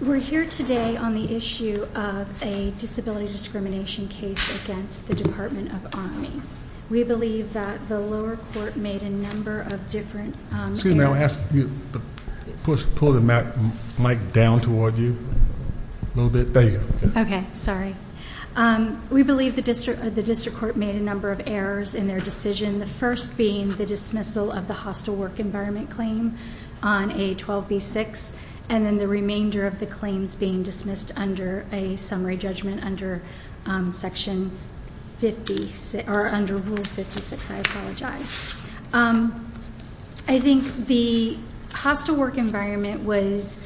We're here today on the issue of a disability discrimination case against the Department of Army. We believe that the lower court made a number of different... Excuse me, I'll ask you to pull the mic down toward you a little bit. There you go. Okay, sorry. We believe the district court made a number of errors in their decision, the first being the dismissal of the hostile work environment claim on A12B6, and then the remainder of the claims being dismissed under a summary judgment under Rule 56. I apologize. I think the hostile work environment was...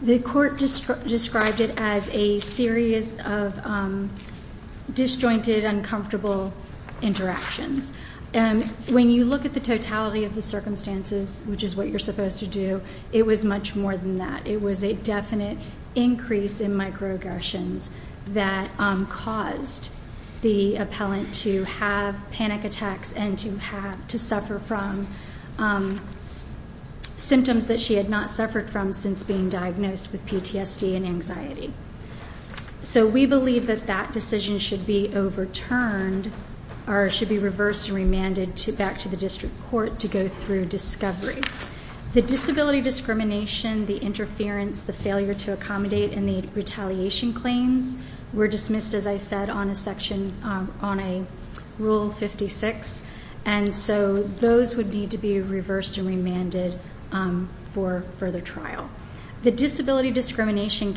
The court described it as a series of disjointed, uncomfortable interactions. When you look at the totality of the circumstances, which is what you're supposed to do, it was much more than that. It was a definite increase in microaggressions that caused the appellant to have panic attacks and to suffer from symptoms that she had not suffered from since being diagnosed with PTSD and anxiety. We believe that that decision should be overturned or should be reversed and remanded back to the district court to go through discovery. The disability discrimination, the interference, the failure to accommodate, and the retaliation claims were dismissed, as I said, on a Rule 56. Those would need to be reversed and remanded for further trial. The disability discrimination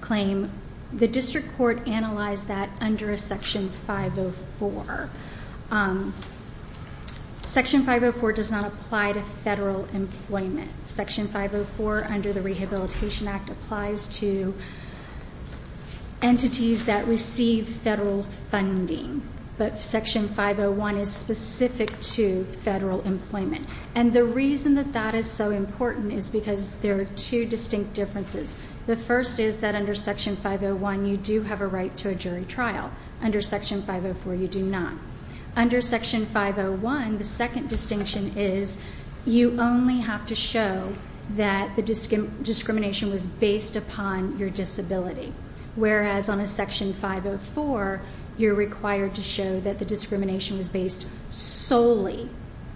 claim, the district court analyzed that under a Section 504. Section 504 does not apply to federal employment. Section 504 under the Rehabilitation Act applies to entities that receive federal funding, but Section 501 is specific to federal employment. The reason that that is so important is because there are two distinct differences. The first is that under Section 501, you do have a right to a jury trial. Under Section 504, you do not. Under Section 501, the second distinction is you only have to show that the discrimination was based upon your disability, whereas on a Section 504, you're required to show that the discrimination was based solely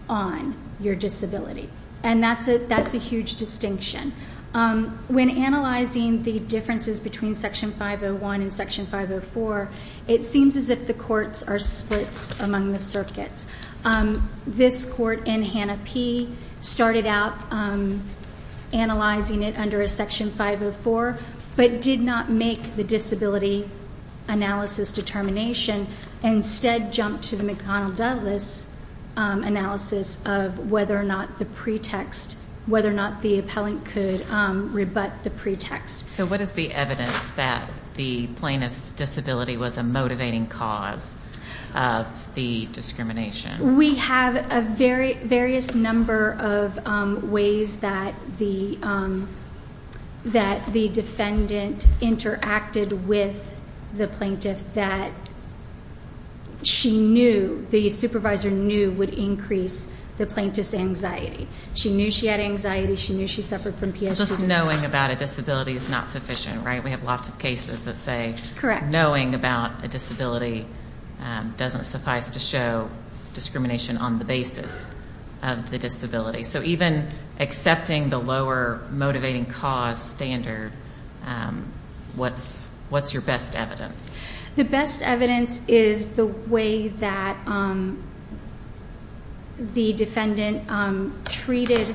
on your disability. And that's a huge distinction. When analyzing the differences between Section 501 and Section 504, it seems as if the courts are split among the circuits. This court in Hannah P. started out analyzing it under a Section 504, but did not make the disability analysis determination, and instead jumped to the McConnell-Douglas analysis of whether or not the pretext, whether or not the appellant could rebut the pretext. So what is the evidence that the plaintiff's disability was a motivating cause of the discrimination? We have a various number of ways that the defendant interacted with the plaintiff that she knew, the supervisor knew, would increase the plaintiff's anxiety. She knew she had anxiety. She knew she suffered from PTSD. Just knowing about a disability is not sufficient, right? We have lots of cases that say knowing about a disability doesn't suffice to show discrimination on the basis of the disability. So even accepting the lower motivating cause standard, what's your best evidence? The best evidence is the way that the defendant treated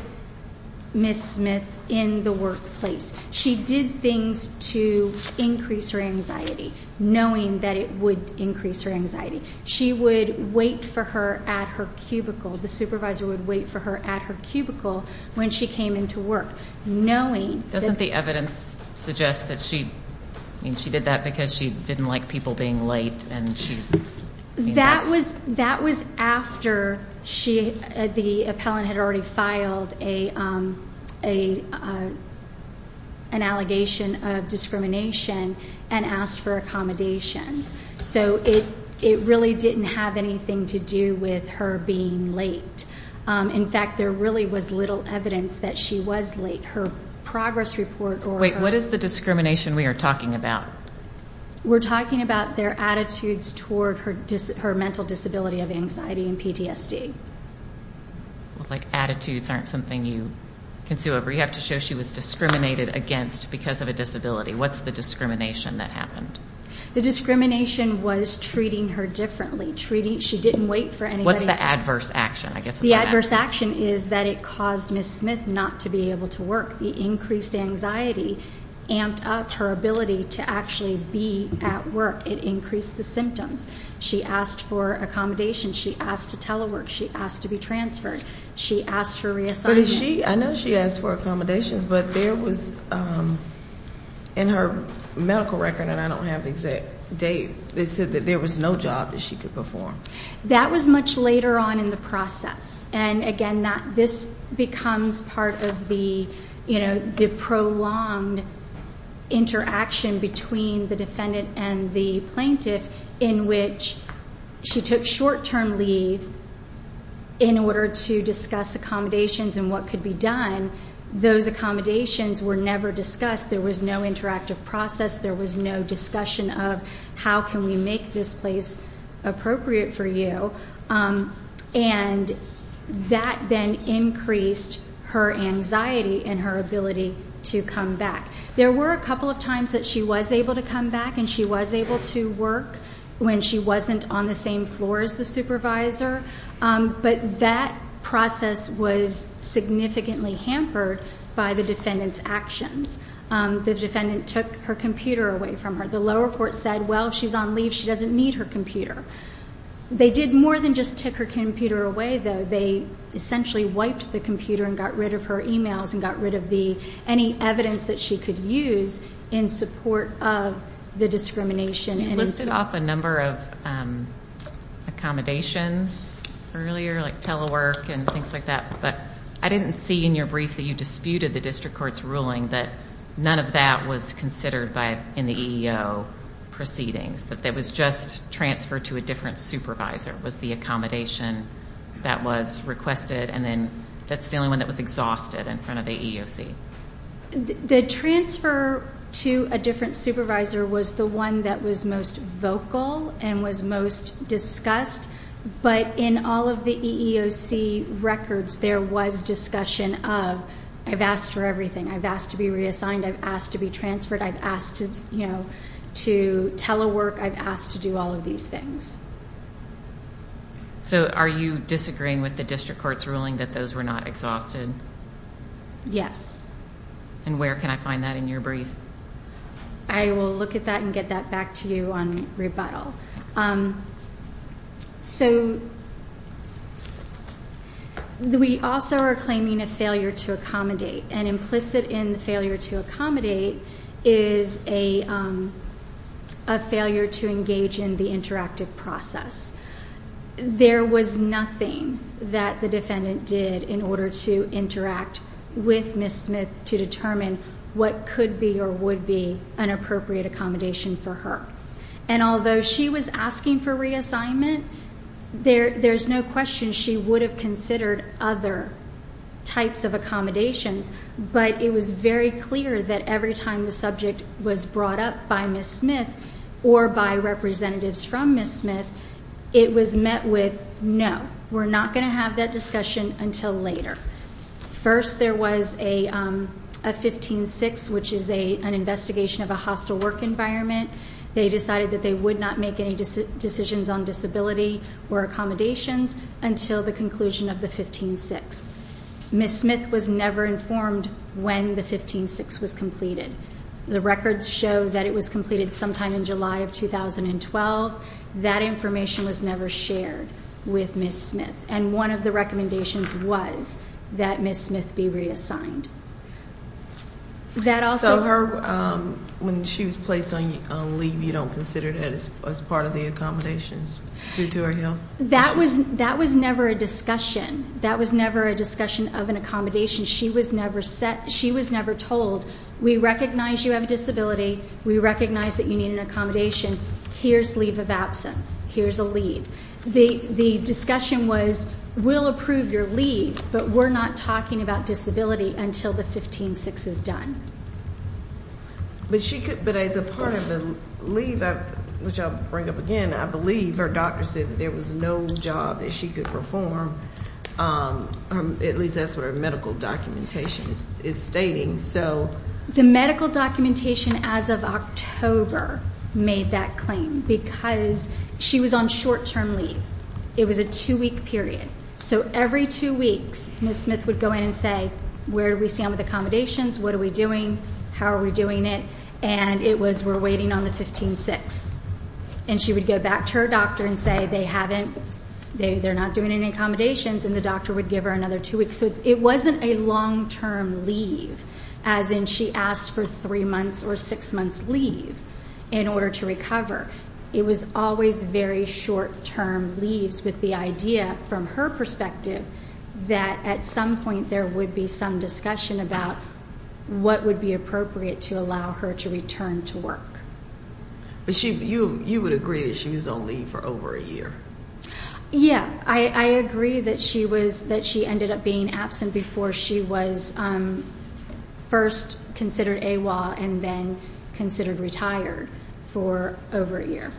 Ms. Smith in the workplace. She did things to increase her anxiety, knowing that it would increase her anxiety. She would wait for her at her cubicle. The supervisor would wait for her at her cubicle when she came into work, knowing that... Didn't the evidence suggest that she did that because she didn't like people being late? That was after the appellant had already filed an allegation of discrimination and asked for accommodations. So it really didn't have anything to do with her being late. In fact, there really was little evidence that she was late. Wait, what is the discrimination we are talking about? We're talking about their attitudes toward her mental disability of anxiety and PTSD. Like attitudes aren't something you can sue over. You have to show she was discriminated against because of a disability. What's the discrimination that happened? The discrimination was treating her differently. She didn't wait for anybody... What's the adverse action? The adverse action is that it caused Ms. Smith not to be able to work. The increased anxiety amped up her ability to actually be at work. It increased the symptoms. She asked for accommodations. She asked to telework. She asked to be transferred. She asked for reassignment. But is she... I know she asked for accommodations, but there was... In her medical record, and I don't have the exact date, they said that there was no job that she could perform. That was much later on in the process. And again, this becomes part of the prolonged interaction between the defendant and the plaintiff in which she took short-term leave in order to discuss accommodations and what could be done. Those accommodations were never discussed. There was no interactive process. There was no discussion of, how can we make this place appropriate for you? And that then increased her anxiety and her ability to come back. There were a couple of times that she was able to come back and she was able to work when she wasn't on the same floor as the supervisor, but that process was significantly hampered by the defendant's actions. The defendant took her computer away from her. The lower court said, well, she's on leave. She doesn't need her computer. They did more than just take her computer away, though. They essentially wiped the computer and got rid of her emails and got rid of any evidence that she could use in support of the discrimination. You listed off a number of accommodations earlier, like telework and things like that, but I didn't see in your brief that you disputed the district court's ruling that none of that was considered in the EEO proceedings, that that was just transfer to a different supervisor was the accommodation that was requested, and then that's the only one that was exhausted in front of the EEOC. The transfer to a different supervisor was the one that was most vocal and was most discussed, but in all of the EEOC records, there was discussion of, I've asked for everything. I've asked to be reassigned. I've asked to be transferred. I've asked to telework. I've asked to do all of these things. So are you disagreeing with the district court's ruling that those were not exhausted? Yes. And where can I find that in your brief? I will look at that and get that back to you on rebuttal. So we also are claiming a failure to accommodate, and implicit in the failure to accommodate is a failure to engage in the interactive process. There was nothing that the defendant did in order to interact with Ms. Smith to determine what could be or would be an appropriate accommodation for her. And although she was asking for reassignment, there's no question she would have considered other types of accommodations, but it was very clear that every time the subject was brought up by Ms. Smith or by representatives from Ms. Smith, it was met with, no, we're not going to have that discussion until later. First, there was a 15-6, which is an investigation of a hostile work environment. They decided that they would not make any decisions on disability or accommodations until the conclusion of the 15-6. Ms. Smith was never informed when the 15-6 was completed. The records show that it was completed sometime in July of 2012. That information was never shared with Ms. Smith. And one of the recommendations was that Ms. Smith be reassigned. That also... So her, when she was placed on leave, you don't consider that as part of the accommodations due to her health? That was never a discussion. That was never a discussion of an accommodation. She was never set, she was never told, we recognize you have a disability, we recognize that you need an accommodation, here's leave of absence, here's a leave. The discussion was, we'll approve your leave, but we're not talking about disability until the 15-6 is done. But she could, but as a part of the leave, which I'll bring up again, I believe her doctor said that there was no job that she could perform, at least that's what her medical documentation is stating, so... The medical documentation as of October made that claim because she was on short-term leave. It was a two-week period. So every two weeks, Ms. Smith would go in and say, where do we stand with accommodations? What are we doing? How are we doing it? And it was, we're waiting on the 15-6. And she would go back to her doctor and say they haven't, they're not doing any accommodations and the doctor would give her another two weeks. So it wasn't a long-term leave, as in she asked for three months or six months leave in order to recover. It was always very short-term leaves with the idea, from her perspective, that at some point there would be some discussion about what would be appropriate to allow her to return to work. But she, you would agree that she was on leave for over a year? Yeah. I agree that she was, that she ended up being absent before she was first considered AWOL and then considered retired for over a year.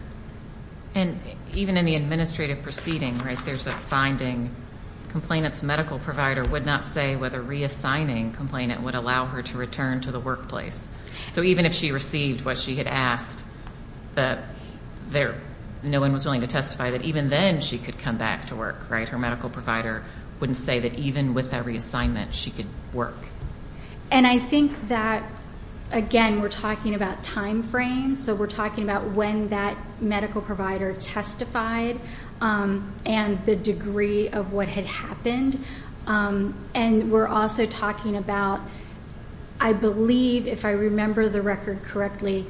And even in the administrative proceeding, right, there's a finding, complainant's medical provider would not say whether reassigning complainant would allow her to return to the workplace. So even if she received what she had asked, that there, no one was willing to testify that even then she could come back to work, right? Her medical provider wouldn't say that even with that reassignment she could work. And I think that, again, we're talking about timeframes, so we're talking about when that medical provider testified and the degree of what had happened. And we're also talking about, I believe, if I remember the record correctly,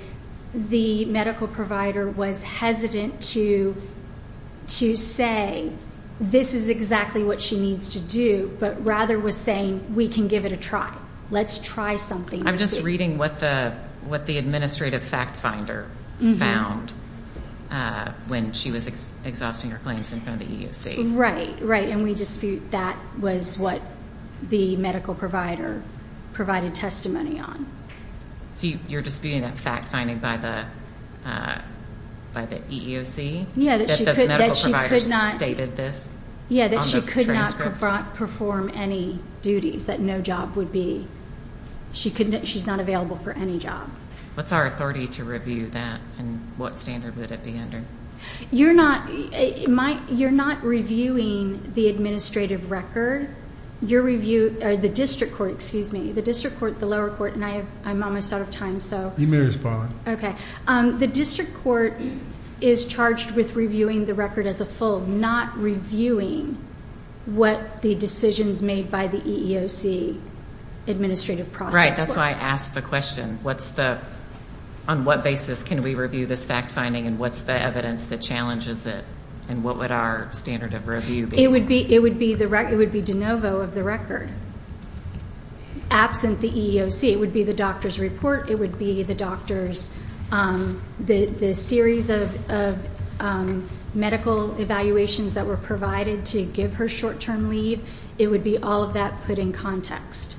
the medical provider was hesitant to say, this is exactly what she needs to do, but rather was saying, we can give it a try. Let's try something. I'm just reading what the administrative fact finder found when she was exhausting her claims in front of the EEOC. Right, right. And we dispute that was what the medical provider provided testimony on. So you're disputing that fact finding by the EEOC? Yeah, that she could not. That the medical provider stated this on the transcript? Yeah, that she could not perform any duties, that no job would be, she's not available for any job. What's our authority to review that, and what standard would it be under? You're not, you're not reviewing the administrative record. Your review, the district court, excuse me, the district court, the lower court, and I have, I'm almost out of time, so. You may respond. Okay. The district court is charged with reviewing the record as a full, not reviewing what the decisions made by the EEOC administrative process. Right, that's why I asked the question, what's the, on what basis can we review this fact finding, and what's the evidence that challenges it, and what would our standard of review be? It would be, it would be the, it would be de novo of the record, absent the EEOC, it would be the doctor's report, it would be the doctor's, the, the series of, of medical evaluations that were provided to give her short-term leave, it would be all of that put in context.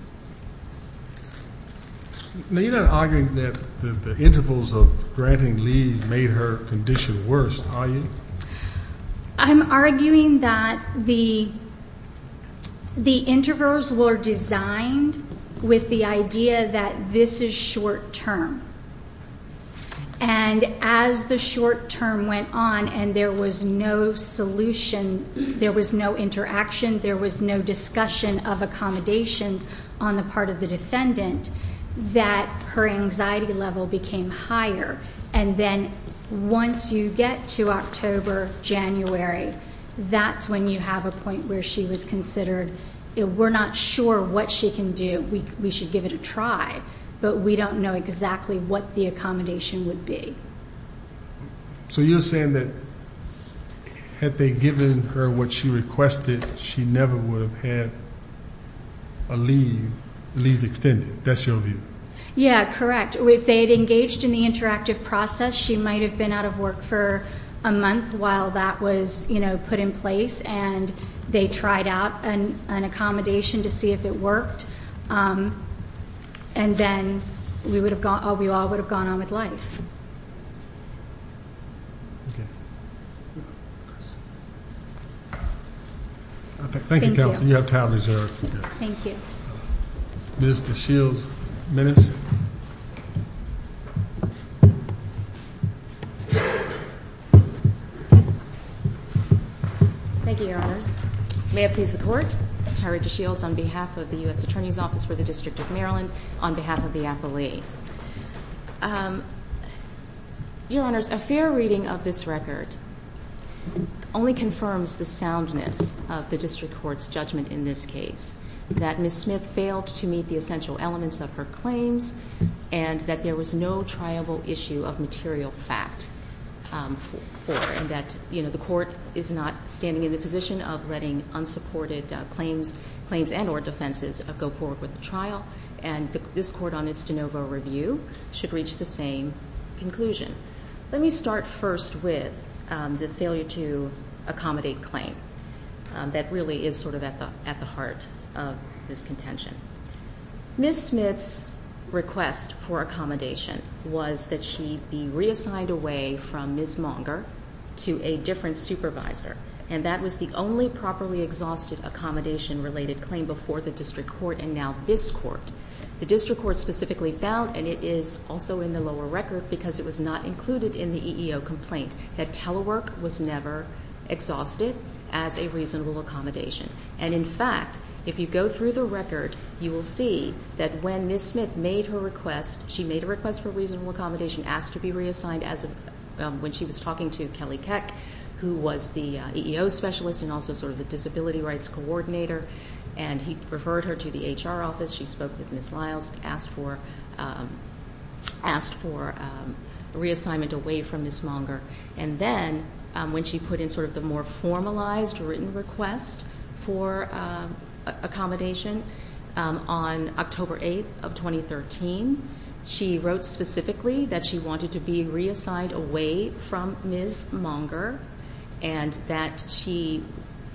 Now, you're not arguing that the, the intervals of granting leave made her condition worse, are you? I'm arguing that the, the intervals were designed with the idea that this is short-term, and as the short-term went on, and there was no solution, there was no interaction, there was no discussion of accommodations on the part of the defendant, that her anxiety level became higher, and then once you get to October, January, that's when you have a point where she was considered, we're not sure what she can do, we, we should give it a try, but we don't know exactly what the accommodation would be. So you're saying that, had they given her what she requested, she never would have had a leave, leave extended, that's your view? Yeah, correct. If they had engaged in the interactive process, she might have been out of work for a month while that was, you know, put in place, and they tried out an, an accommodation to see if it worked, and then we would have gone, we all would have gone on with life. Thank you, Counselor. You have time reserved. Thank you. Ms. DeShields, minutes. Thank you, Your Honors. May it please the Court, Tyra DeShields on behalf of the U.S. Attorney's Office for the District of Maryland, on behalf of the appellee. Your Honors, a fair reading of this record only confirms the soundness of the District Court's judgment in this case, that Ms. Smith failed to meet the essential elements of her claims, and that there was no triable issue of material fact for her, and that, you know, the Court is not standing in the position of letting unsupported claims, claims and or defenses go forward with the trial, and this Court on its de novo review should reach the same conclusion. Let me start first with the failure to accommodate claim. That really is sort of at the, at the heart of this contention. Ms. Smith's request for accommodation was that she be reassigned away from Ms. Monger to a different supervisor, and that was the only properly exhausted accommodation related claim before the District Court, and now this Court. The District Court specifically found, and it is also in the lower record because it was not included in the EEO complaint, that telework was never exhausted as a reasonable accommodation. And in fact, if you go through the record, you will see that when Ms. Smith made her request, she made a request for reasonable accommodation, asked to be reassigned as of when she was talking to Kelly Keck, who was the EEO specialist and also sort of the disability rights coordinator, and he referred her to the HR office. She spoke with Ms. Lyles and asked for, asked for reassignment away from Ms. Monger. And then when she put in sort of the more formalized written request for accommodation on October 8th of 2013, she wrote specifically that she wanted to be reassigned away from Ms. Monger and that she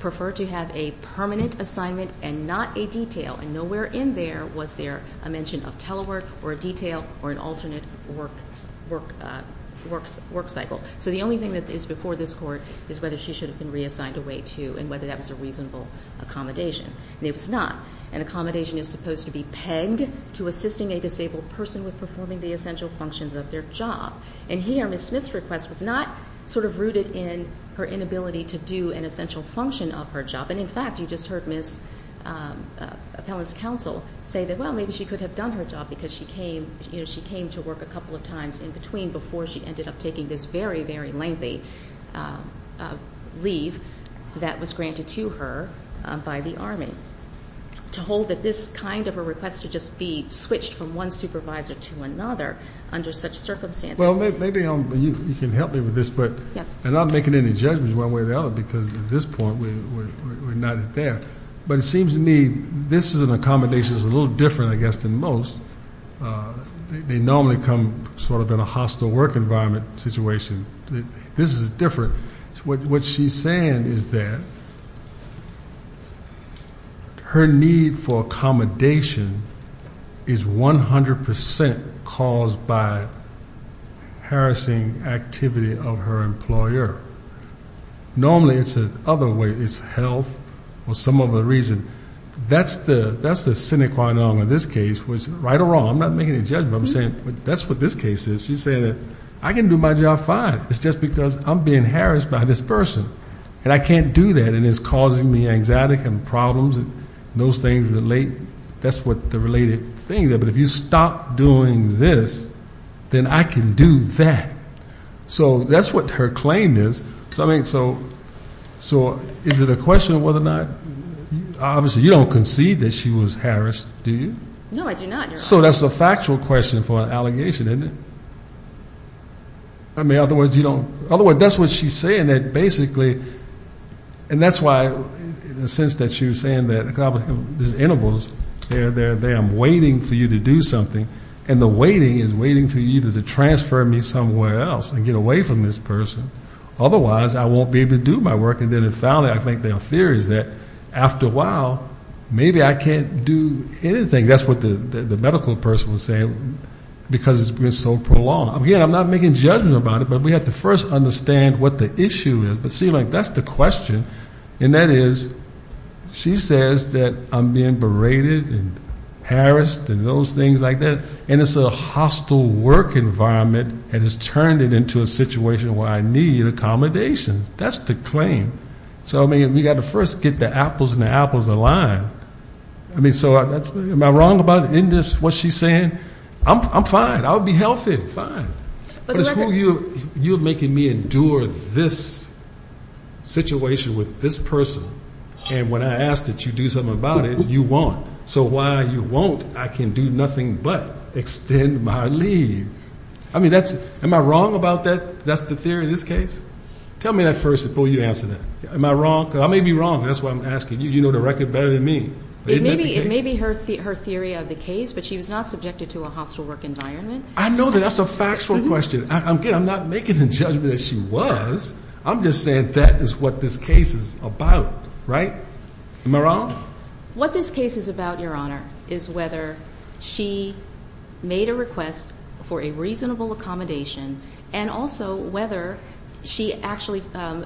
preferred to have a permanent assignment and not a detail, and nowhere in there was there a mention of telework or a detail or an alternate work cycle. So the only thing that is before this Court is whether she should have been reassigned away to, and whether that was a reasonable accommodation. And it was not. An accommodation is supposed to be pegged to assisting a disabled person with performing the essential functions of their job. And here, Ms. Smith's request was not sort of rooted in her inability to do an essential function of her job. And, in fact, you just heard Ms. Appellant's counsel say that, well, maybe she could have done her job because she came, you know, she came to work a couple of times in between before she ended up taking this very, very lengthy leave that was granted to her by the Army. To hold that this kind of a request to just be switched from one supervisor to another under such circumstances. Well, maybe you can help me with this. Yes. I'm not making any judgments one way or the other because at this point we're not there. But it seems to me this is an accommodation that's a little different, I guess, than most. They normally come sort of in a hostile work environment situation. This is different. What she's saying is that her need for accommodation is 100% caused by harassing activity of her employer. Normally it's the other way. It's health or some other reason. That's the sine qua non in this case, which, right or wrong, I'm not making any judgments. I'm saying that's what this case is. She's saying that I can do my job fine. It's just because I'm being harassed by this person. And I can't do that. And it's causing me anxiety and problems and those things relate. That's what the related thing is. But if you stop doing this, then I can do that. So that's what her claim is. So is it a question of whether or not obviously you don't concede that she was harassed, do you? No, I do not. So that's a factual question for an allegation, isn't it? I mean, otherwise you don't. Otherwise, that's what she's saying, that basically. And that's why, in the sense that she was saying that there's intervals. I'm waiting for you to do something. And the waiting is waiting for you to transfer me somewhere else and get away from this person. Otherwise, I won't be able to do my work. And then finally, I think there are theories that after a while, maybe I can't do anything. I think that's what the medical person was saying because it's been so prolonged. Again, I'm not making judgment about it, but we have to first understand what the issue is. But see, like, that's the question. And that is, she says that I'm being berated and harassed and those things like that, and it's a hostile work environment and has turned it into a situation where I need accommodations. That's the claim. So, I mean, we've got to first get the apples and the apples aligned. I mean, so am I wrong about what she's saying? I'm fine. I'll be healthy. Fine. But it's you making me endure this situation with this person. And when I ask that you do something about it, you won't. So while you won't, I can do nothing but extend my leave. I mean, am I wrong about that? That's the theory in this case? Tell me that first before you answer that. Am I wrong? Because I may be wrong. That's why I'm asking. You know the record better than me. It may be her theory of the case, but she was not subjected to a hostile work environment. I know that. That's a factual question. I'm not making the judgment that she was. I'm just saying that is what this case is about, right? Am I wrong? What this case is about, Your Honor, is whether she made a request for a reasonable accommodation and also whether she actually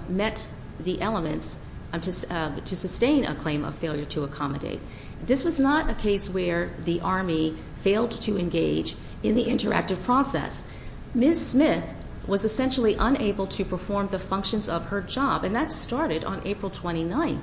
met the elements to sustain a claim of failure to accommodate. This was not a case where the Army failed to engage in the interactive process. Ms. Smith was essentially unable to perform the functions of her job, and that started on April 29th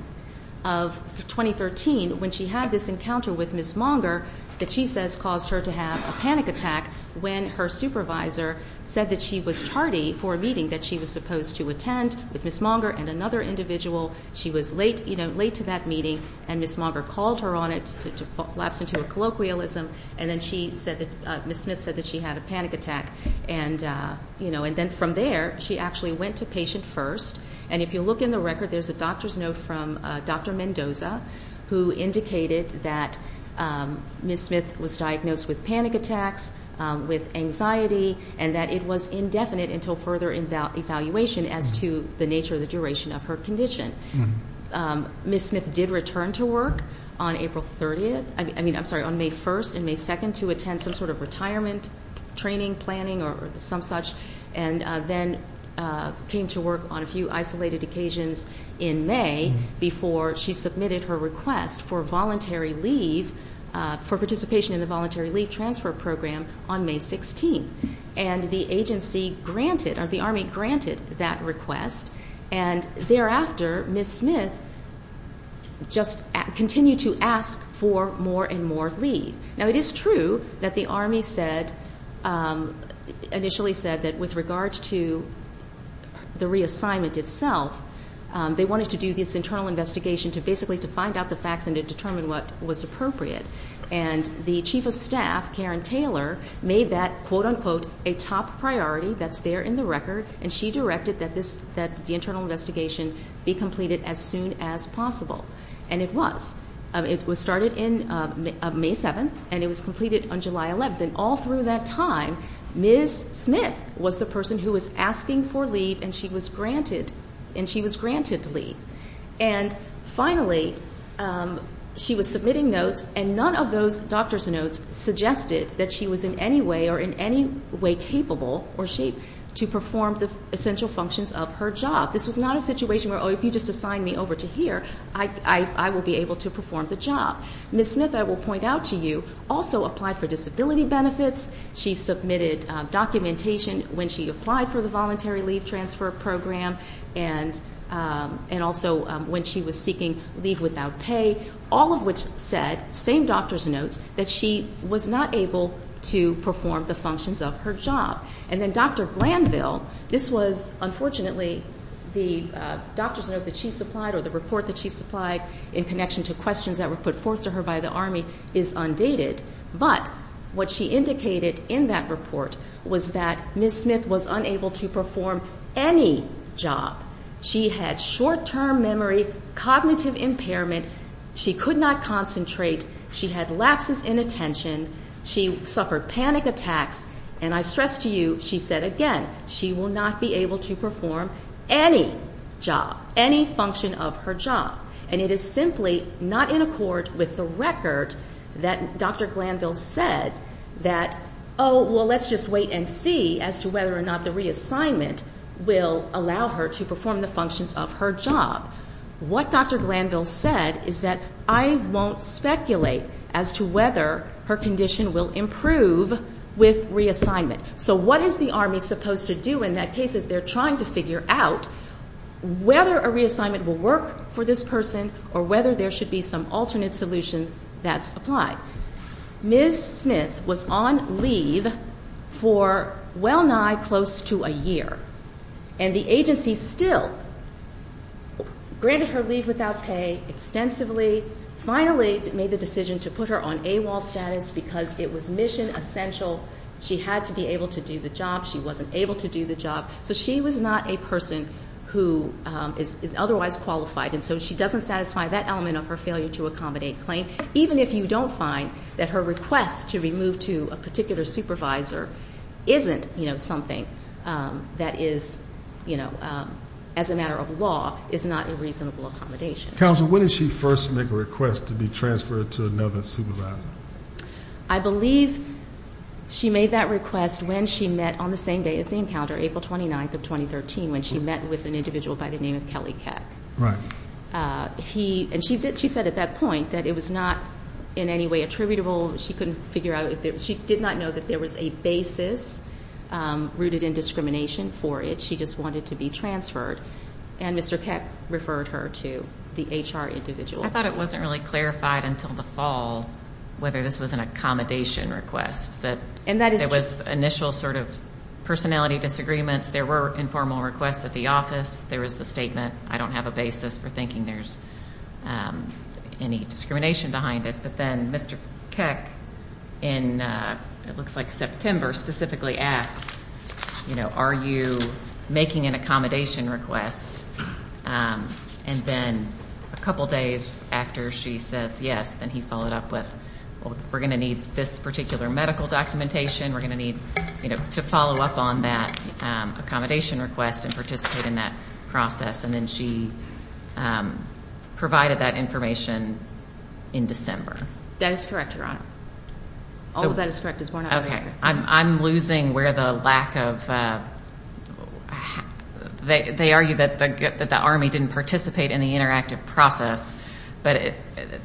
of 2013 when she had this encounter with Ms. Monger that she says caused her to have a panic attack when her supervisor said that she was tardy for a meeting that she was supposed to attend with Ms. Monger and another individual. She was late to that meeting, and Ms. Monger called her on it to collapse into a colloquialism, and then Ms. Smith said that she had a panic attack. And then from there, she actually went to patient first. And if you look in the record, there's a doctor's note from Dr. Mendoza who indicated that Ms. Smith was diagnosed with panic attacks, with anxiety, and that it was indefinite until further evaluation as to the nature of the duration of her condition. Ms. Smith did return to work on April 30th. I mean, I'm sorry, on May 1st and May 2nd to attend some sort of retirement training, planning, or some such, and then came to work on a few isolated occasions in May before she submitted her request for voluntary leave for participation in the Voluntary Leave Transfer Program on May 16th. And the agency granted, or the Army granted that request, and thereafter Ms. Smith just continued to ask for more and more leave. Now, it is true that the Army said, initially said that with regards to the reassignment itself, they wanted to do this internal investigation to basically to find out the facts and to determine what was appropriate. And the chief of staff, Karen Taylor, made that, quote, unquote, a top priority that's there in the record, and she directed that the internal investigation be completed as soon as possible. And it was. It was started on May 7th, and it was completed on July 11th. And all through that time, Ms. Smith was the person who was asking for leave, and she was granted leave. And finally, she was submitting notes, and none of those doctor's notes suggested that she was in any way or in any way capable or shape to perform the essential functions of her job. This was not a situation where, oh, if you just assign me over to here, I will be able to perform the job. Ms. Smith, I will point out to you, also applied for disability benefits. She submitted documentation when she applied for the Voluntary Leave Transfer Program, and also when she was seeking leave without pay, all of which said, same doctor's notes, that she was not able to perform the functions of her job. And then Dr. Glanville, this was, unfortunately, the doctor's note that she supplied or the report that she supplied in connection to questions that were put forth to her by the Army is undated. But what she indicated in that report was that Ms. Smith was unable to perform any job. She had short-term memory, cognitive impairment, she could not concentrate, she had lapses in attention, she suffered panic attacks, and I stress to you, she said again, she will not be able to perform any job, any function of her job. And it is simply not in accord with the record that Dr. Glanville said that, oh, well, let's just wait and see as to whether or not the reassignment will allow her to perform the functions of her job. What Dr. Glanville said is that I won't speculate as to whether her condition will improve with reassignment. So what is the Army supposed to do in that case as they're trying to figure out whether a reassignment will work for this person or whether there should be some alternate solution that's applied? Ms. Smith was on leave for well nigh close to a year. And the agency still granted her leave without pay extensively, finally made the decision to put her on AWOL status because it was mission essential. She had to be able to do the job. She wasn't able to do the job. So she was not a person who is otherwise qualified. And so she doesn't satisfy that element of her failure to accommodate claim, even if you don't find that her request to be moved to a particular supervisor isn't, you know, something that is, you know, as a matter of law, is not a reasonable accommodation. Counsel, when did she first make a request to be transferred to another supervisor? I believe she made that request when she met on the same day as the encounter, April 29th of 2013, when she met with an individual by the name of Kelly Keck. Right. And she said at that point that it was not in any way attributable. She couldn't figure out, she did not know that there was a basis rooted in discrimination for it. She just wanted to be transferred. And Mr. Keck referred her to the HR individual. I thought it wasn't really clarified until the fall whether this was an accommodation request, that there was initial sort of personality disagreements. There were informal requests at the office. There was the statement, I don't have a basis for thinking there's any discrimination behind it. But then Mr. Keck, in it looks like September, specifically asks, you know, are you making an accommodation request? And then a couple days after she says yes, then he followed up with, well, we're going to need this particular medical documentation. We're going to need, you know, to follow up on that accommodation request and participate in that process. And then she provided that information in December. That is correct, Your Honor. All of that is correct. Okay. I'm losing where the lack of, they argue that the Army didn't participate in the interactive process. But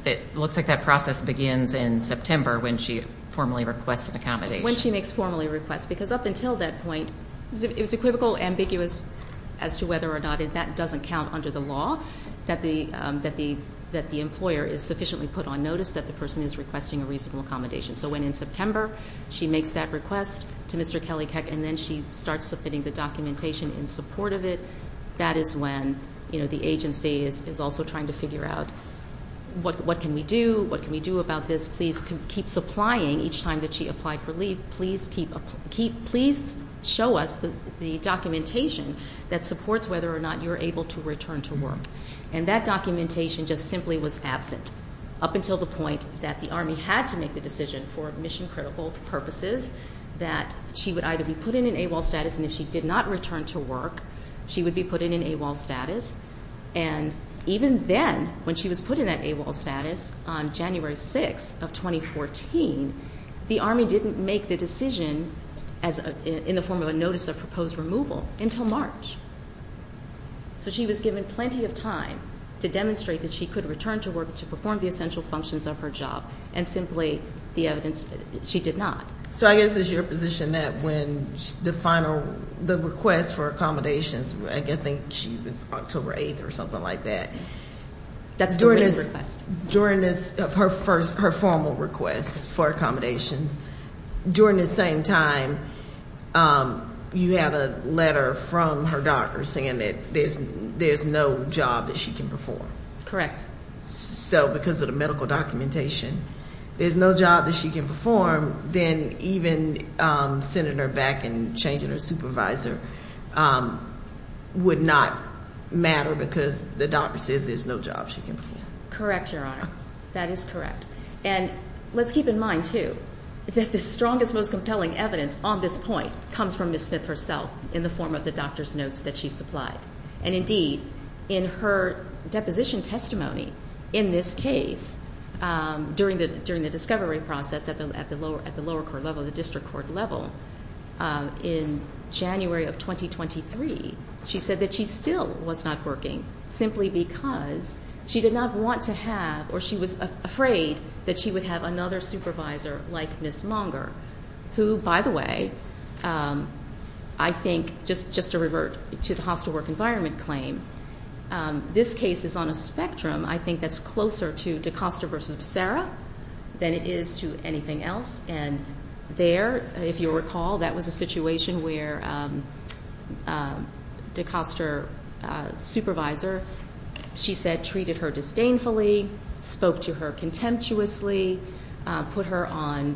it looks like that process begins in September when she formally requests an accommodation. When she makes formally requests. Because up until that point, it was equivocal, ambiguous as to whether or not that doesn't count under the law that the employer is sufficiently put on notice that the person is requesting a reasonable accommodation. So when in September she makes that request to Mr. Kelly Keck and then she starts submitting the documentation in support of it, that is when, you know, the agency is also trying to figure out what can we do, what can we do about this. Please keep supplying each time that she applied for leave. Please show us the documentation that supports whether or not you're able to return to work. And that documentation just simply was absent up until the point that the Army had to make the decision for mission-critical purposes that she would either be put in an AWOL status, and if she did not return to work, she would be put in an AWOL status. And even then, when she was put in that AWOL status on January 6th of 2014, the Army didn't make the decision in the form of a notice of proposed removal until March. So she was given plenty of time to demonstrate that she could return to work to perform the essential functions of her job, and simply the evidence she did not. So I guess it's your position that when the final, the request for accommodations, I think she was October 8th or something like that. That's the written request. During her formal request for accommodations, during the same time, you had a letter from her doctor saying that there's no job that she can perform. Correct. So because of the medical documentation, there's no job that she can perform, then even sending her back and changing her supervisor would not matter because the doctor says there's no job she can perform. Correct, Your Honor. That is correct. And let's keep in mind, too, that the strongest, most compelling evidence on this point comes from Ms. Smith herself in the form of the doctor's notes that she supplied. And indeed, in her deposition testimony in this case, during the discovery process at the lower court level, the district court level, in January of 2023, she said that she still was not working simply because she did not want to have or she was afraid that she would have another supervisor like Ms. Longer, who, by the way, I think, just to revert to the hostile work environment claim, this case is on a spectrum, I think, that's closer to DaCosta versus Becerra than it is to anything else. And there, if you recall, that was a situation where DaCosta's supervisor, she said, treated her disdainfully, spoke to her contemptuously, put her on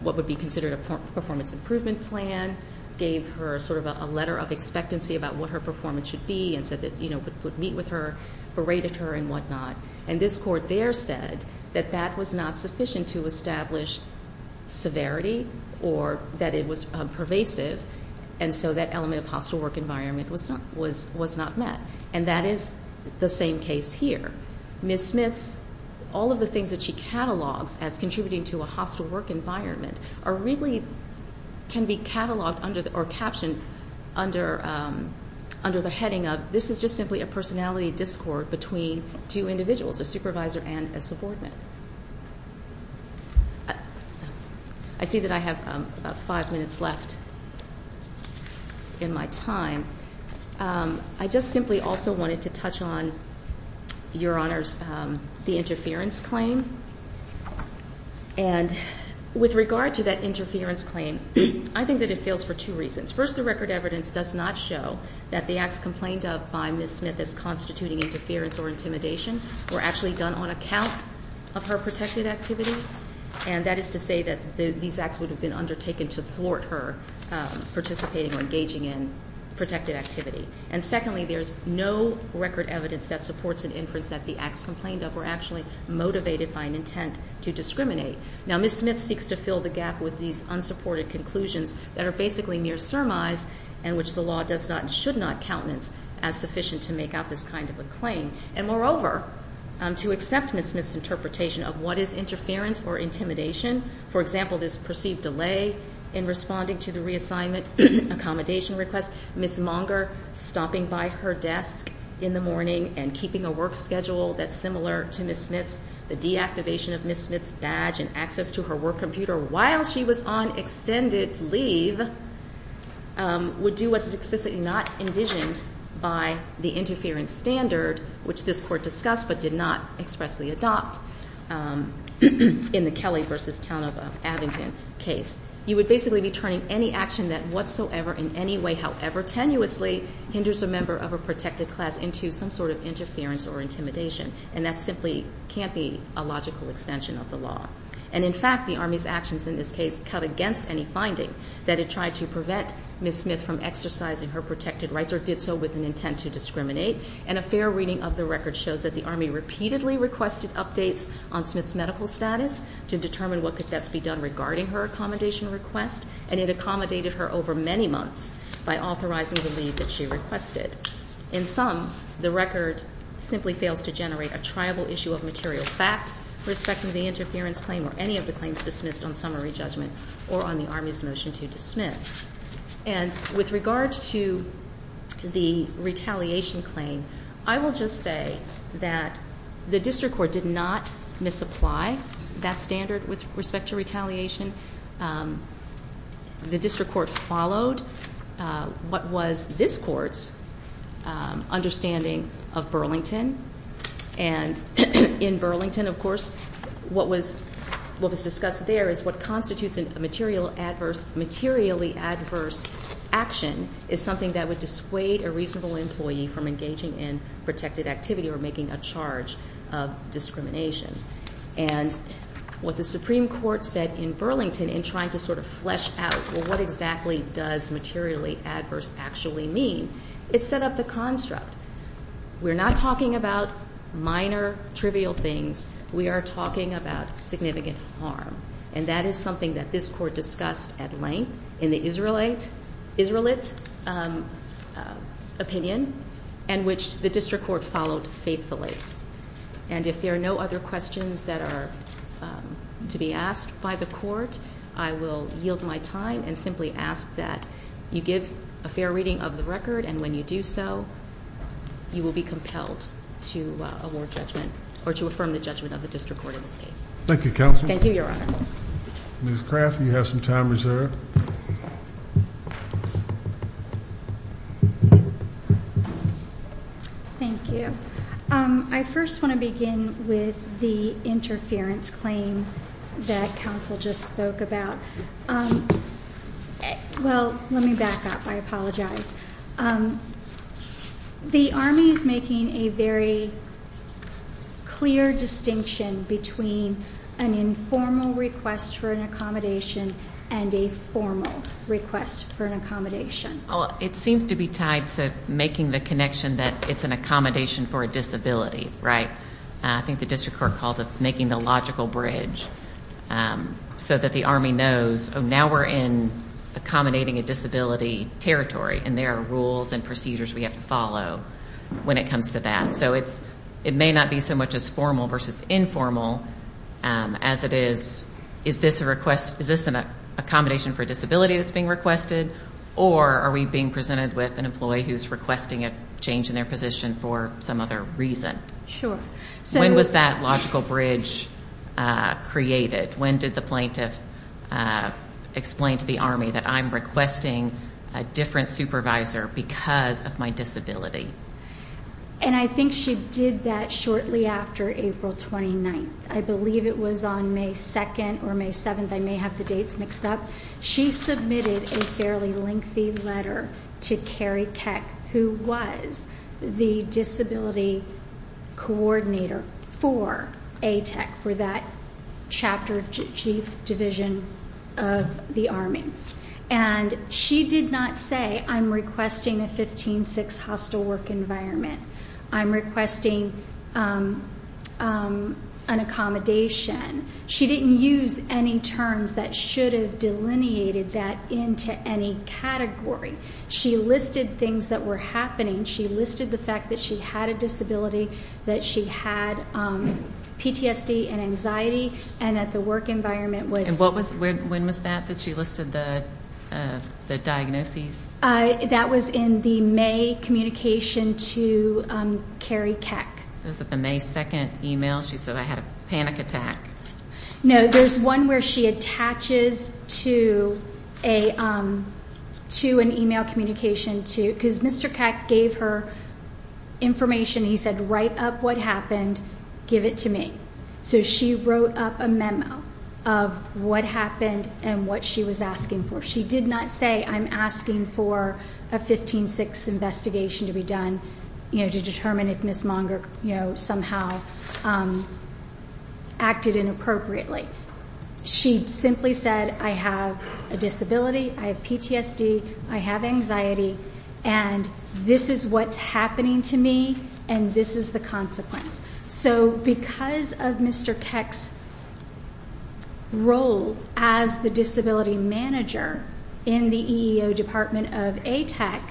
what would be considered a performance improvement plan, gave her sort of a letter of expectancy about what her performance should be, and said that, you know, would meet with her, berated her and whatnot. And this court there said that that was not sufficient to establish severity or that it was pervasive, and so that element of hostile work environment was not met. And that is the same case here. Ms. Smith's all of the things that she catalogs as contributing to a hostile work environment really can be cataloged or captioned under the heading of, this is just simply a personality discord between two individuals, a supervisor and a subordinate. I see that I have about five minutes left in my time. I just simply also wanted to touch on, Your Honors, the interference claim. And with regard to that interference claim, I think that it fails for two reasons. First, the record evidence does not show that the acts complained of by Ms. Smith as constituting interference or intimidation were actually done on account of her protected activity, and that is to say that these acts would have been undertaken to thwart her participating or engaging in protected activity. And secondly, there's no record evidence that supports an inference that the acts complained of were actually motivated by an intent to discriminate. Now, Ms. Smith seeks to fill the gap with these unsupported conclusions that are basically mere surmise and which the law does not and should not countenance as sufficient to make out this kind of a claim. And moreover, to accept Ms. Smith's interpretation of what is interference or intimidation, for example, this perceived delay in responding to the reassignment accommodation request, Ms. Monger stopping by her desk in the morning and keeping a work schedule that's similar to Ms. Smith's, the deactivation of Ms. Smith's badge and access to her work computer while she was on extended leave, would do what is explicitly not envisioned by the interference standard, which this Court discussed but did not expressly adopt in the Kelly v. Tanova-Abingdon case. You would basically be turning any action that whatsoever in any way, however tenuously, hinders a member of a protected class into some sort of interference or intimidation, and that simply can't be a logical extension of the law. And in fact, the Army's actions in this case cut against any finding that it tried to prevent Ms. Smith from exercising her protected rights or did so with an intent to discriminate, and a fair reading of the record shows that the Army repeatedly requested updates on Smith's medical status to determine what could best be done regarding her accommodation request, and it accommodated her over many months by authorizing the leave that she requested. In sum, the record simply fails to generate a triable issue of material fact respecting the interference claim or any of the claims dismissed on summary judgment or on the Army's motion to dismiss. And with regard to the retaliation claim, I will just say that the district court did not misapply. That's standard with respect to retaliation. The district court followed what was this court's understanding of Burlington, and in Burlington, of course, what was discussed there is what constitutes a materially adverse action is something that would dissuade a reasonable employee from engaging in protected activity or making a charge of discrimination. And what the Supreme Court said in Burlington in trying to sort of flesh out, well, what exactly does materially adverse actually mean, it set up the construct. We're not talking about minor trivial things. We are talking about significant harm, and that is something that this court discussed at length in the Israelite opinion and which the district court followed faithfully. And if there are no other questions that are to be asked by the court, I will yield my time and simply ask that you give a fair reading of the record, and when you do so, you will be compelled to award judgment or to affirm the judgment of the district court in this case. Thank you, Counsel. Thank you, Your Honor. Ms. Craft, you have some time reserved. Yes, ma'am. Thank you. I first want to begin with the interference claim that counsel just spoke about. Well, let me back up. I apologize. The Army is making a very clear distinction between an informal request for an accommodation and a formal request for an accommodation. It seems to be tied to making the connection that it's an accommodation for a disability, right? I think the district court called it making the logical bridge so that the Army knows, oh, now we're in accommodating a disability territory, and there are rules and procedures we have to follow when it comes to that. So it may not be so much as formal versus informal as it is, is this an accommodation for a disability that's being requested, or are we being presented with an employee who's requesting a change in their position for some other reason? Sure. When was that logical bridge created? When did the plaintiff explain to the Army that I'm requesting a different supervisor because of my disability? And I think she did that shortly after April 29th. I believe it was on May 2nd or May 7th. I may have the dates mixed up. She submitted a fairly lengthy letter to Carrie Keck, who was the disability coordinator for ATEC, for that chapter, Chief Division of the Army. And she did not say, I'm requesting a 15-6 hostile work environment. I'm requesting an accommodation. She didn't use any terms that should have delineated that into any category. She listed things that were happening. She listed the fact that she had a disability, that she had PTSD and anxiety, and that the work environment was. And when was that that she listed the diagnoses? That was in the May communication to Carrie Keck. Was it the May 2nd email? She said, I had a panic attack. No, there's one where she attaches to an email communication to, because Mr. Keck gave her information. He said, write up what happened. Give it to me. So she wrote up a memo of what happened and what she was asking for. She did not say, I'm asking for a 15-6 investigation to be done to determine if Ms. Monger somehow acted inappropriately. She simply said, I have a disability, I have PTSD, I have anxiety, and this is what's happening to me, and this is the consequence. So because of Mr. Keck's role as the disability manager in the EEO department of ATAC,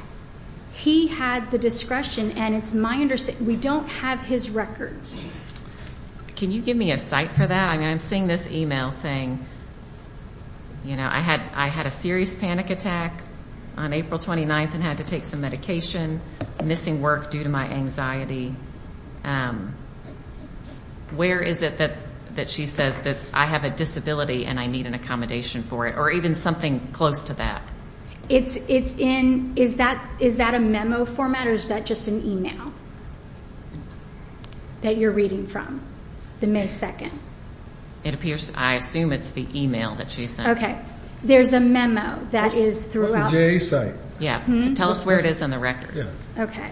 he had the discretion, and it's my understanding, we don't have his records. Can you give me a site for that? I mean, I'm seeing this email saying, you know, I had a serious panic attack on April 29th and had to take some medication, missing work due to my anxiety. Where is it that she says, I have a disability and I need an accommodation for it, or even something close to that? Is that a memo format or is that just an email that you're reading from, the May 2nd? I assume it's the email that she sent. Okay. There's a memo that is throughout. Tell us where it is on the record. Okay.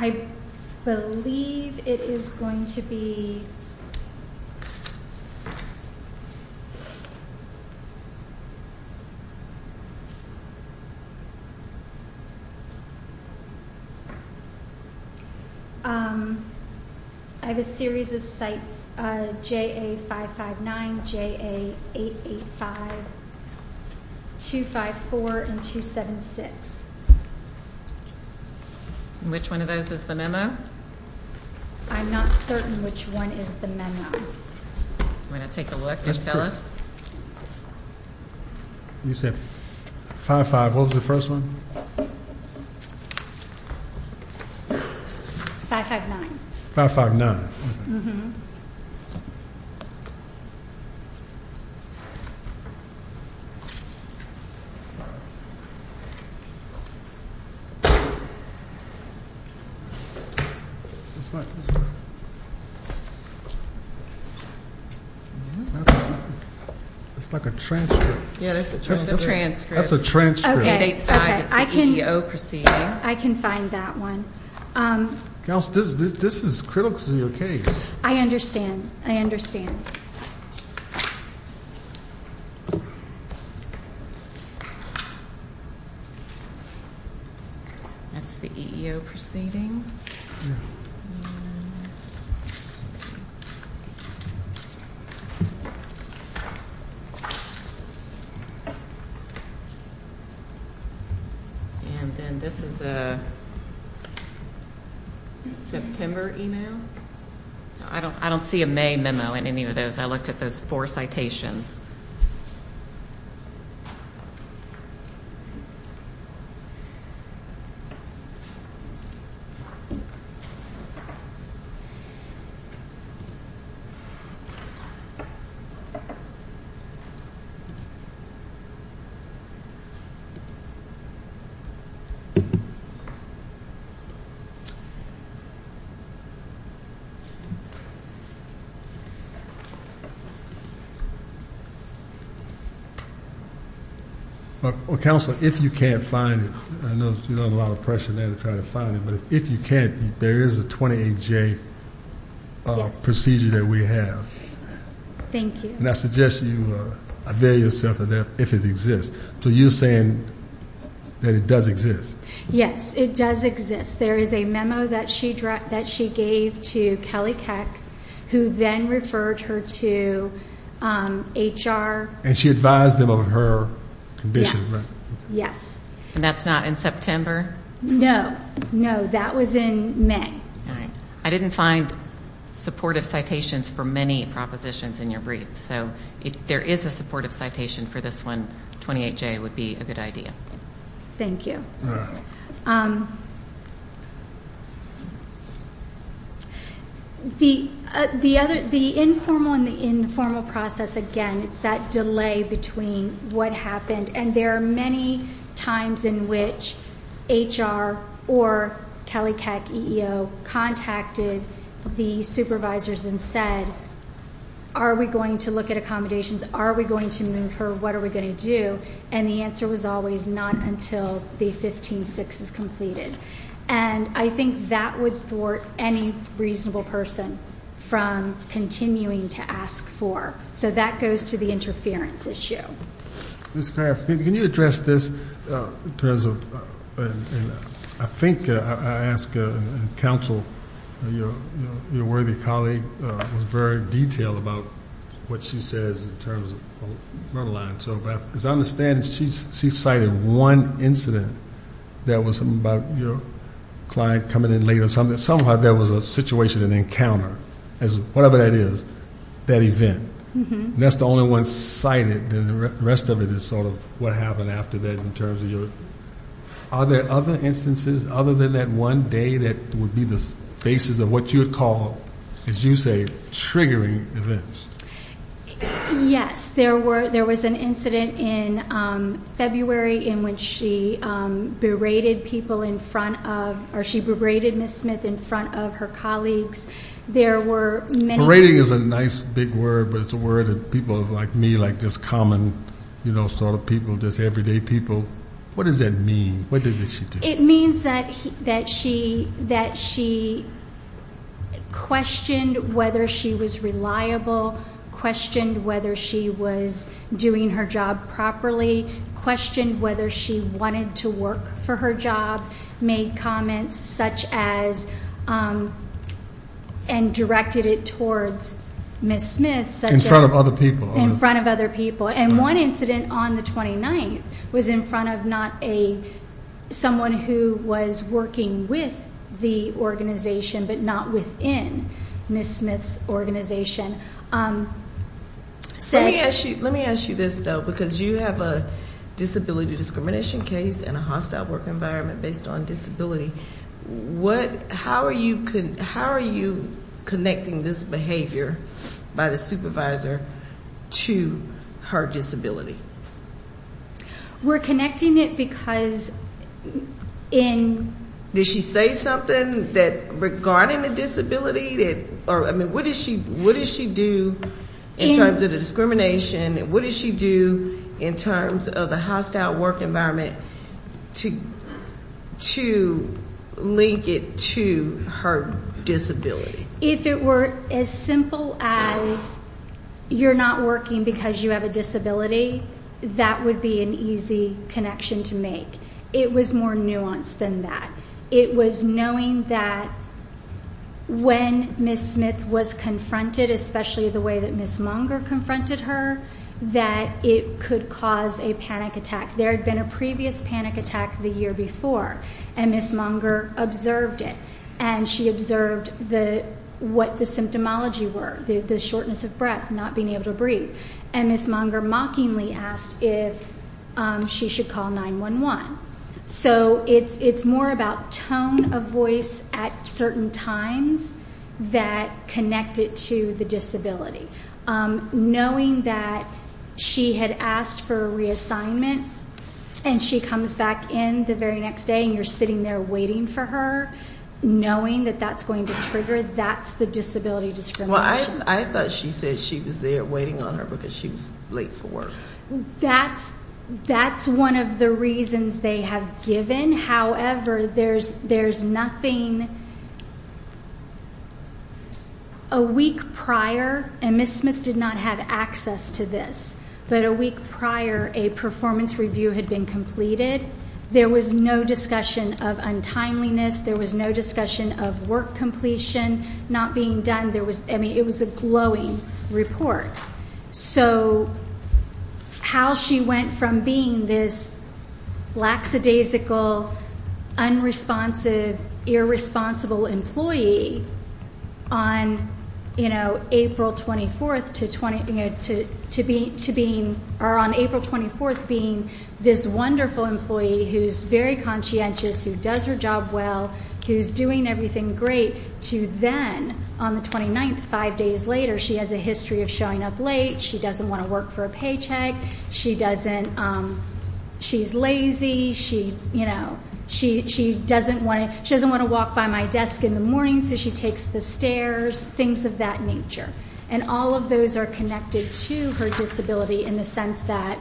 I believe it is going to be... I have a series of sites, JA559, JA885, 254, and 276. Which one of those is the memo? I'm not certain which one is the memo. You want to take a look and tell us? You said 55, what was the first one? 559. 559. It's like... It's like a transcript. Yeah, that's a transcript. That's a transcript. That's a transcript. Okay. 885 is the EEO proceeding. I can find that one. Counsel, this is critical to your case. I understand. I understand. That's the EEO proceeding. And then this is a September email. I don't see a May memo in any of those. I looked at those four citations. Counsel, if you can't find it, I know you're under a lot of pressure now to try to find it. But if you can't, there is a 28-J procedure that we have. Thank you. And I suggest you avail yourself of that if it exists. So you're saying that it does exist? Yes, it does exist. There is a memo that she gave to Kelly Keck, who then referred her to HR. And she advised them of her condition, right? Yes. And that's not in September? No. No, that was in May. All right. I didn't find supportive citations for many propositions in your brief. So if there is a supportive citation for this one, 28-J would be a good idea. Thank you. All right. The informal and the informal process, again, it's that delay between what happened. And there are many times in which HR or Kelly Keck, EEO, contacted the supervisors and said, are we going to look at accommodations? Are we going to move her? What are we going to do? And the answer was always not until the 15-6 is completed. And I think that would thwart any reasonable person from continuing to ask for. So that goes to the interference issue. Ms. Craft, can you address this in terms of, I think I asked counsel, your worthy colleague was very detailed about what she says in terms of front lines. So as I understand, she cited one incident that was about your client coming in late or something. Somehow there was a situation, an encounter, whatever that is, that event. And that's the only one cited. The rest of it is sort of what happened after that in terms of your. Are there other instances other than that one day that would be the basis of what you would call, as you say, triggering events? Yes. There was an incident in February in which she berated people in front of, or she berated Ms. Smith in front of her colleagues. Berating is a nice big word, but it's a word that people like me, like just common sort of people, just everyday people. What does that mean? What did she do? It means that she questioned whether she was reliable, questioned whether she was doing her job properly, questioned whether she wanted to work for her job, made comments such as, and directed it towards Ms. Smith. In front of other people. In front of other people. And one incident on the 29th was in front of not a, someone who was working with the organization but not within Ms. Smith's organization. Let me ask you this, though, because you have a disability discrimination case and a hostile work environment based on disability. How are you connecting this behavior by the supervisor to her disability? We're connecting it because in. Did she say something regarding the disability? I mean, what does she do in terms of the discrimination? What does she do in terms of the hostile work environment to link it to her disability? If it were as simple as you're not working because you have a disability, that would be an easy connection to make. It was more nuanced than that. It was knowing that when Ms. Smith was confronted, especially the way that Ms. Monger confronted her, that it could cause a panic attack. There had been a previous panic attack the year before, and Ms. Monger observed it, and she observed what the symptomology were, the shortness of breath, not being able to breathe. And Ms. Monger mockingly asked if she should call 911. So it's more about tone of voice at certain times that connect it to the disability. Knowing that she had asked for a reassignment, and she comes back in the very next day, and you're sitting there waiting for her, knowing that that's going to trigger, that's the disability discrimination. Well, I thought she said she was there waiting on her because she was late for work. That's one of the reasons they have given. Then, however, there's nothing a week prior, and Ms. Smith did not have access to this, but a week prior a performance review had been completed. There was no discussion of untimeliness. There was no discussion of work completion not being done. I mean, it was a glowing report. So how she went from being this lackadaisical, unresponsive, irresponsible employee on April 24th to being this wonderful employee who's very conscientious, who does her job well, who's doing everything great, to then on the 29th, five days later, she has a history of showing up late. She doesn't want to work for a paycheck. She's lazy. She doesn't want to walk by my desk in the morning, so she takes the stairs, things of that nature. And all of those are connected to her disability in the sense that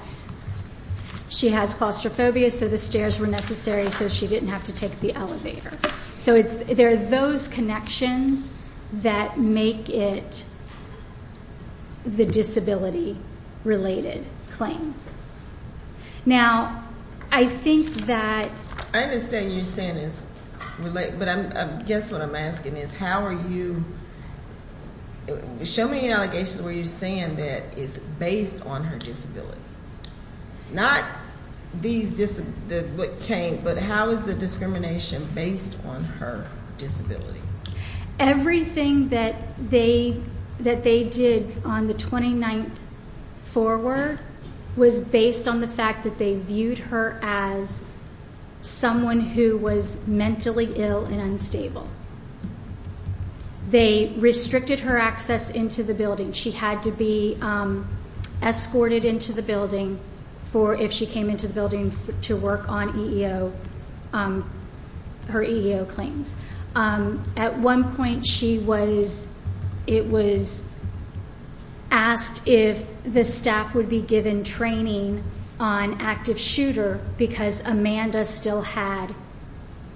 she has claustrophobia, so the stairs were necessary so she didn't have to take the elevator. So there are those connections that make it the disability-related claim. Now, I think that... I understand you're saying it's related, but I guess what I'm asking is, how are you showing allegations where you're saying that it's based on her disability, not what came, but how is the discrimination based on her disability? Everything that they did on the 29th forward was based on the fact that they viewed her as someone who was mentally ill and unstable. They restricted her access into the building. She had to be escorted into the building for, if she came into the building, to work on her EEO claims. At one point, it was asked if the staff would be given training on active shooter because Amanda still had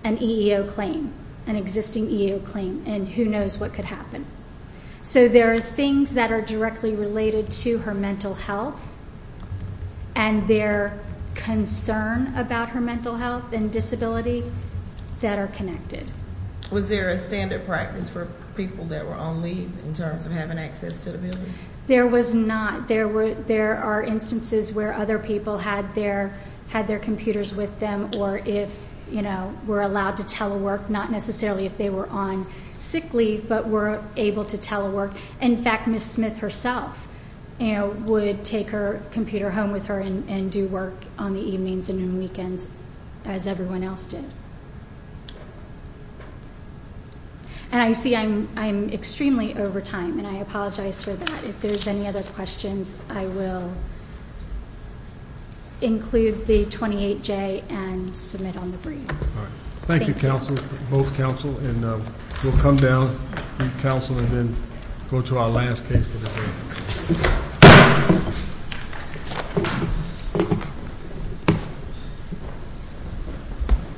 an EEO claim, an existing EEO claim, and who knows what could happen. So there are things that are directly related to her mental health and their concern about her mental health and disability that are connected. Was there a standard practice for people that were on leave in terms of having access to the building? There was not. There are instances where other people had their computers with them or were allowed to telework, not necessarily if they were on sick leave, but were able to telework. In fact, Ms. Smith herself would take her computer home with her and do work on the evenings and weekends as everyone else did. And I see I'm extremely over time, and I apologize for that. If there's any other questions, I will include the 28J and submit on the brief. All right. Thank you, counsel, both counsel. And we'll come down, counsel, and then go to our last case for the day.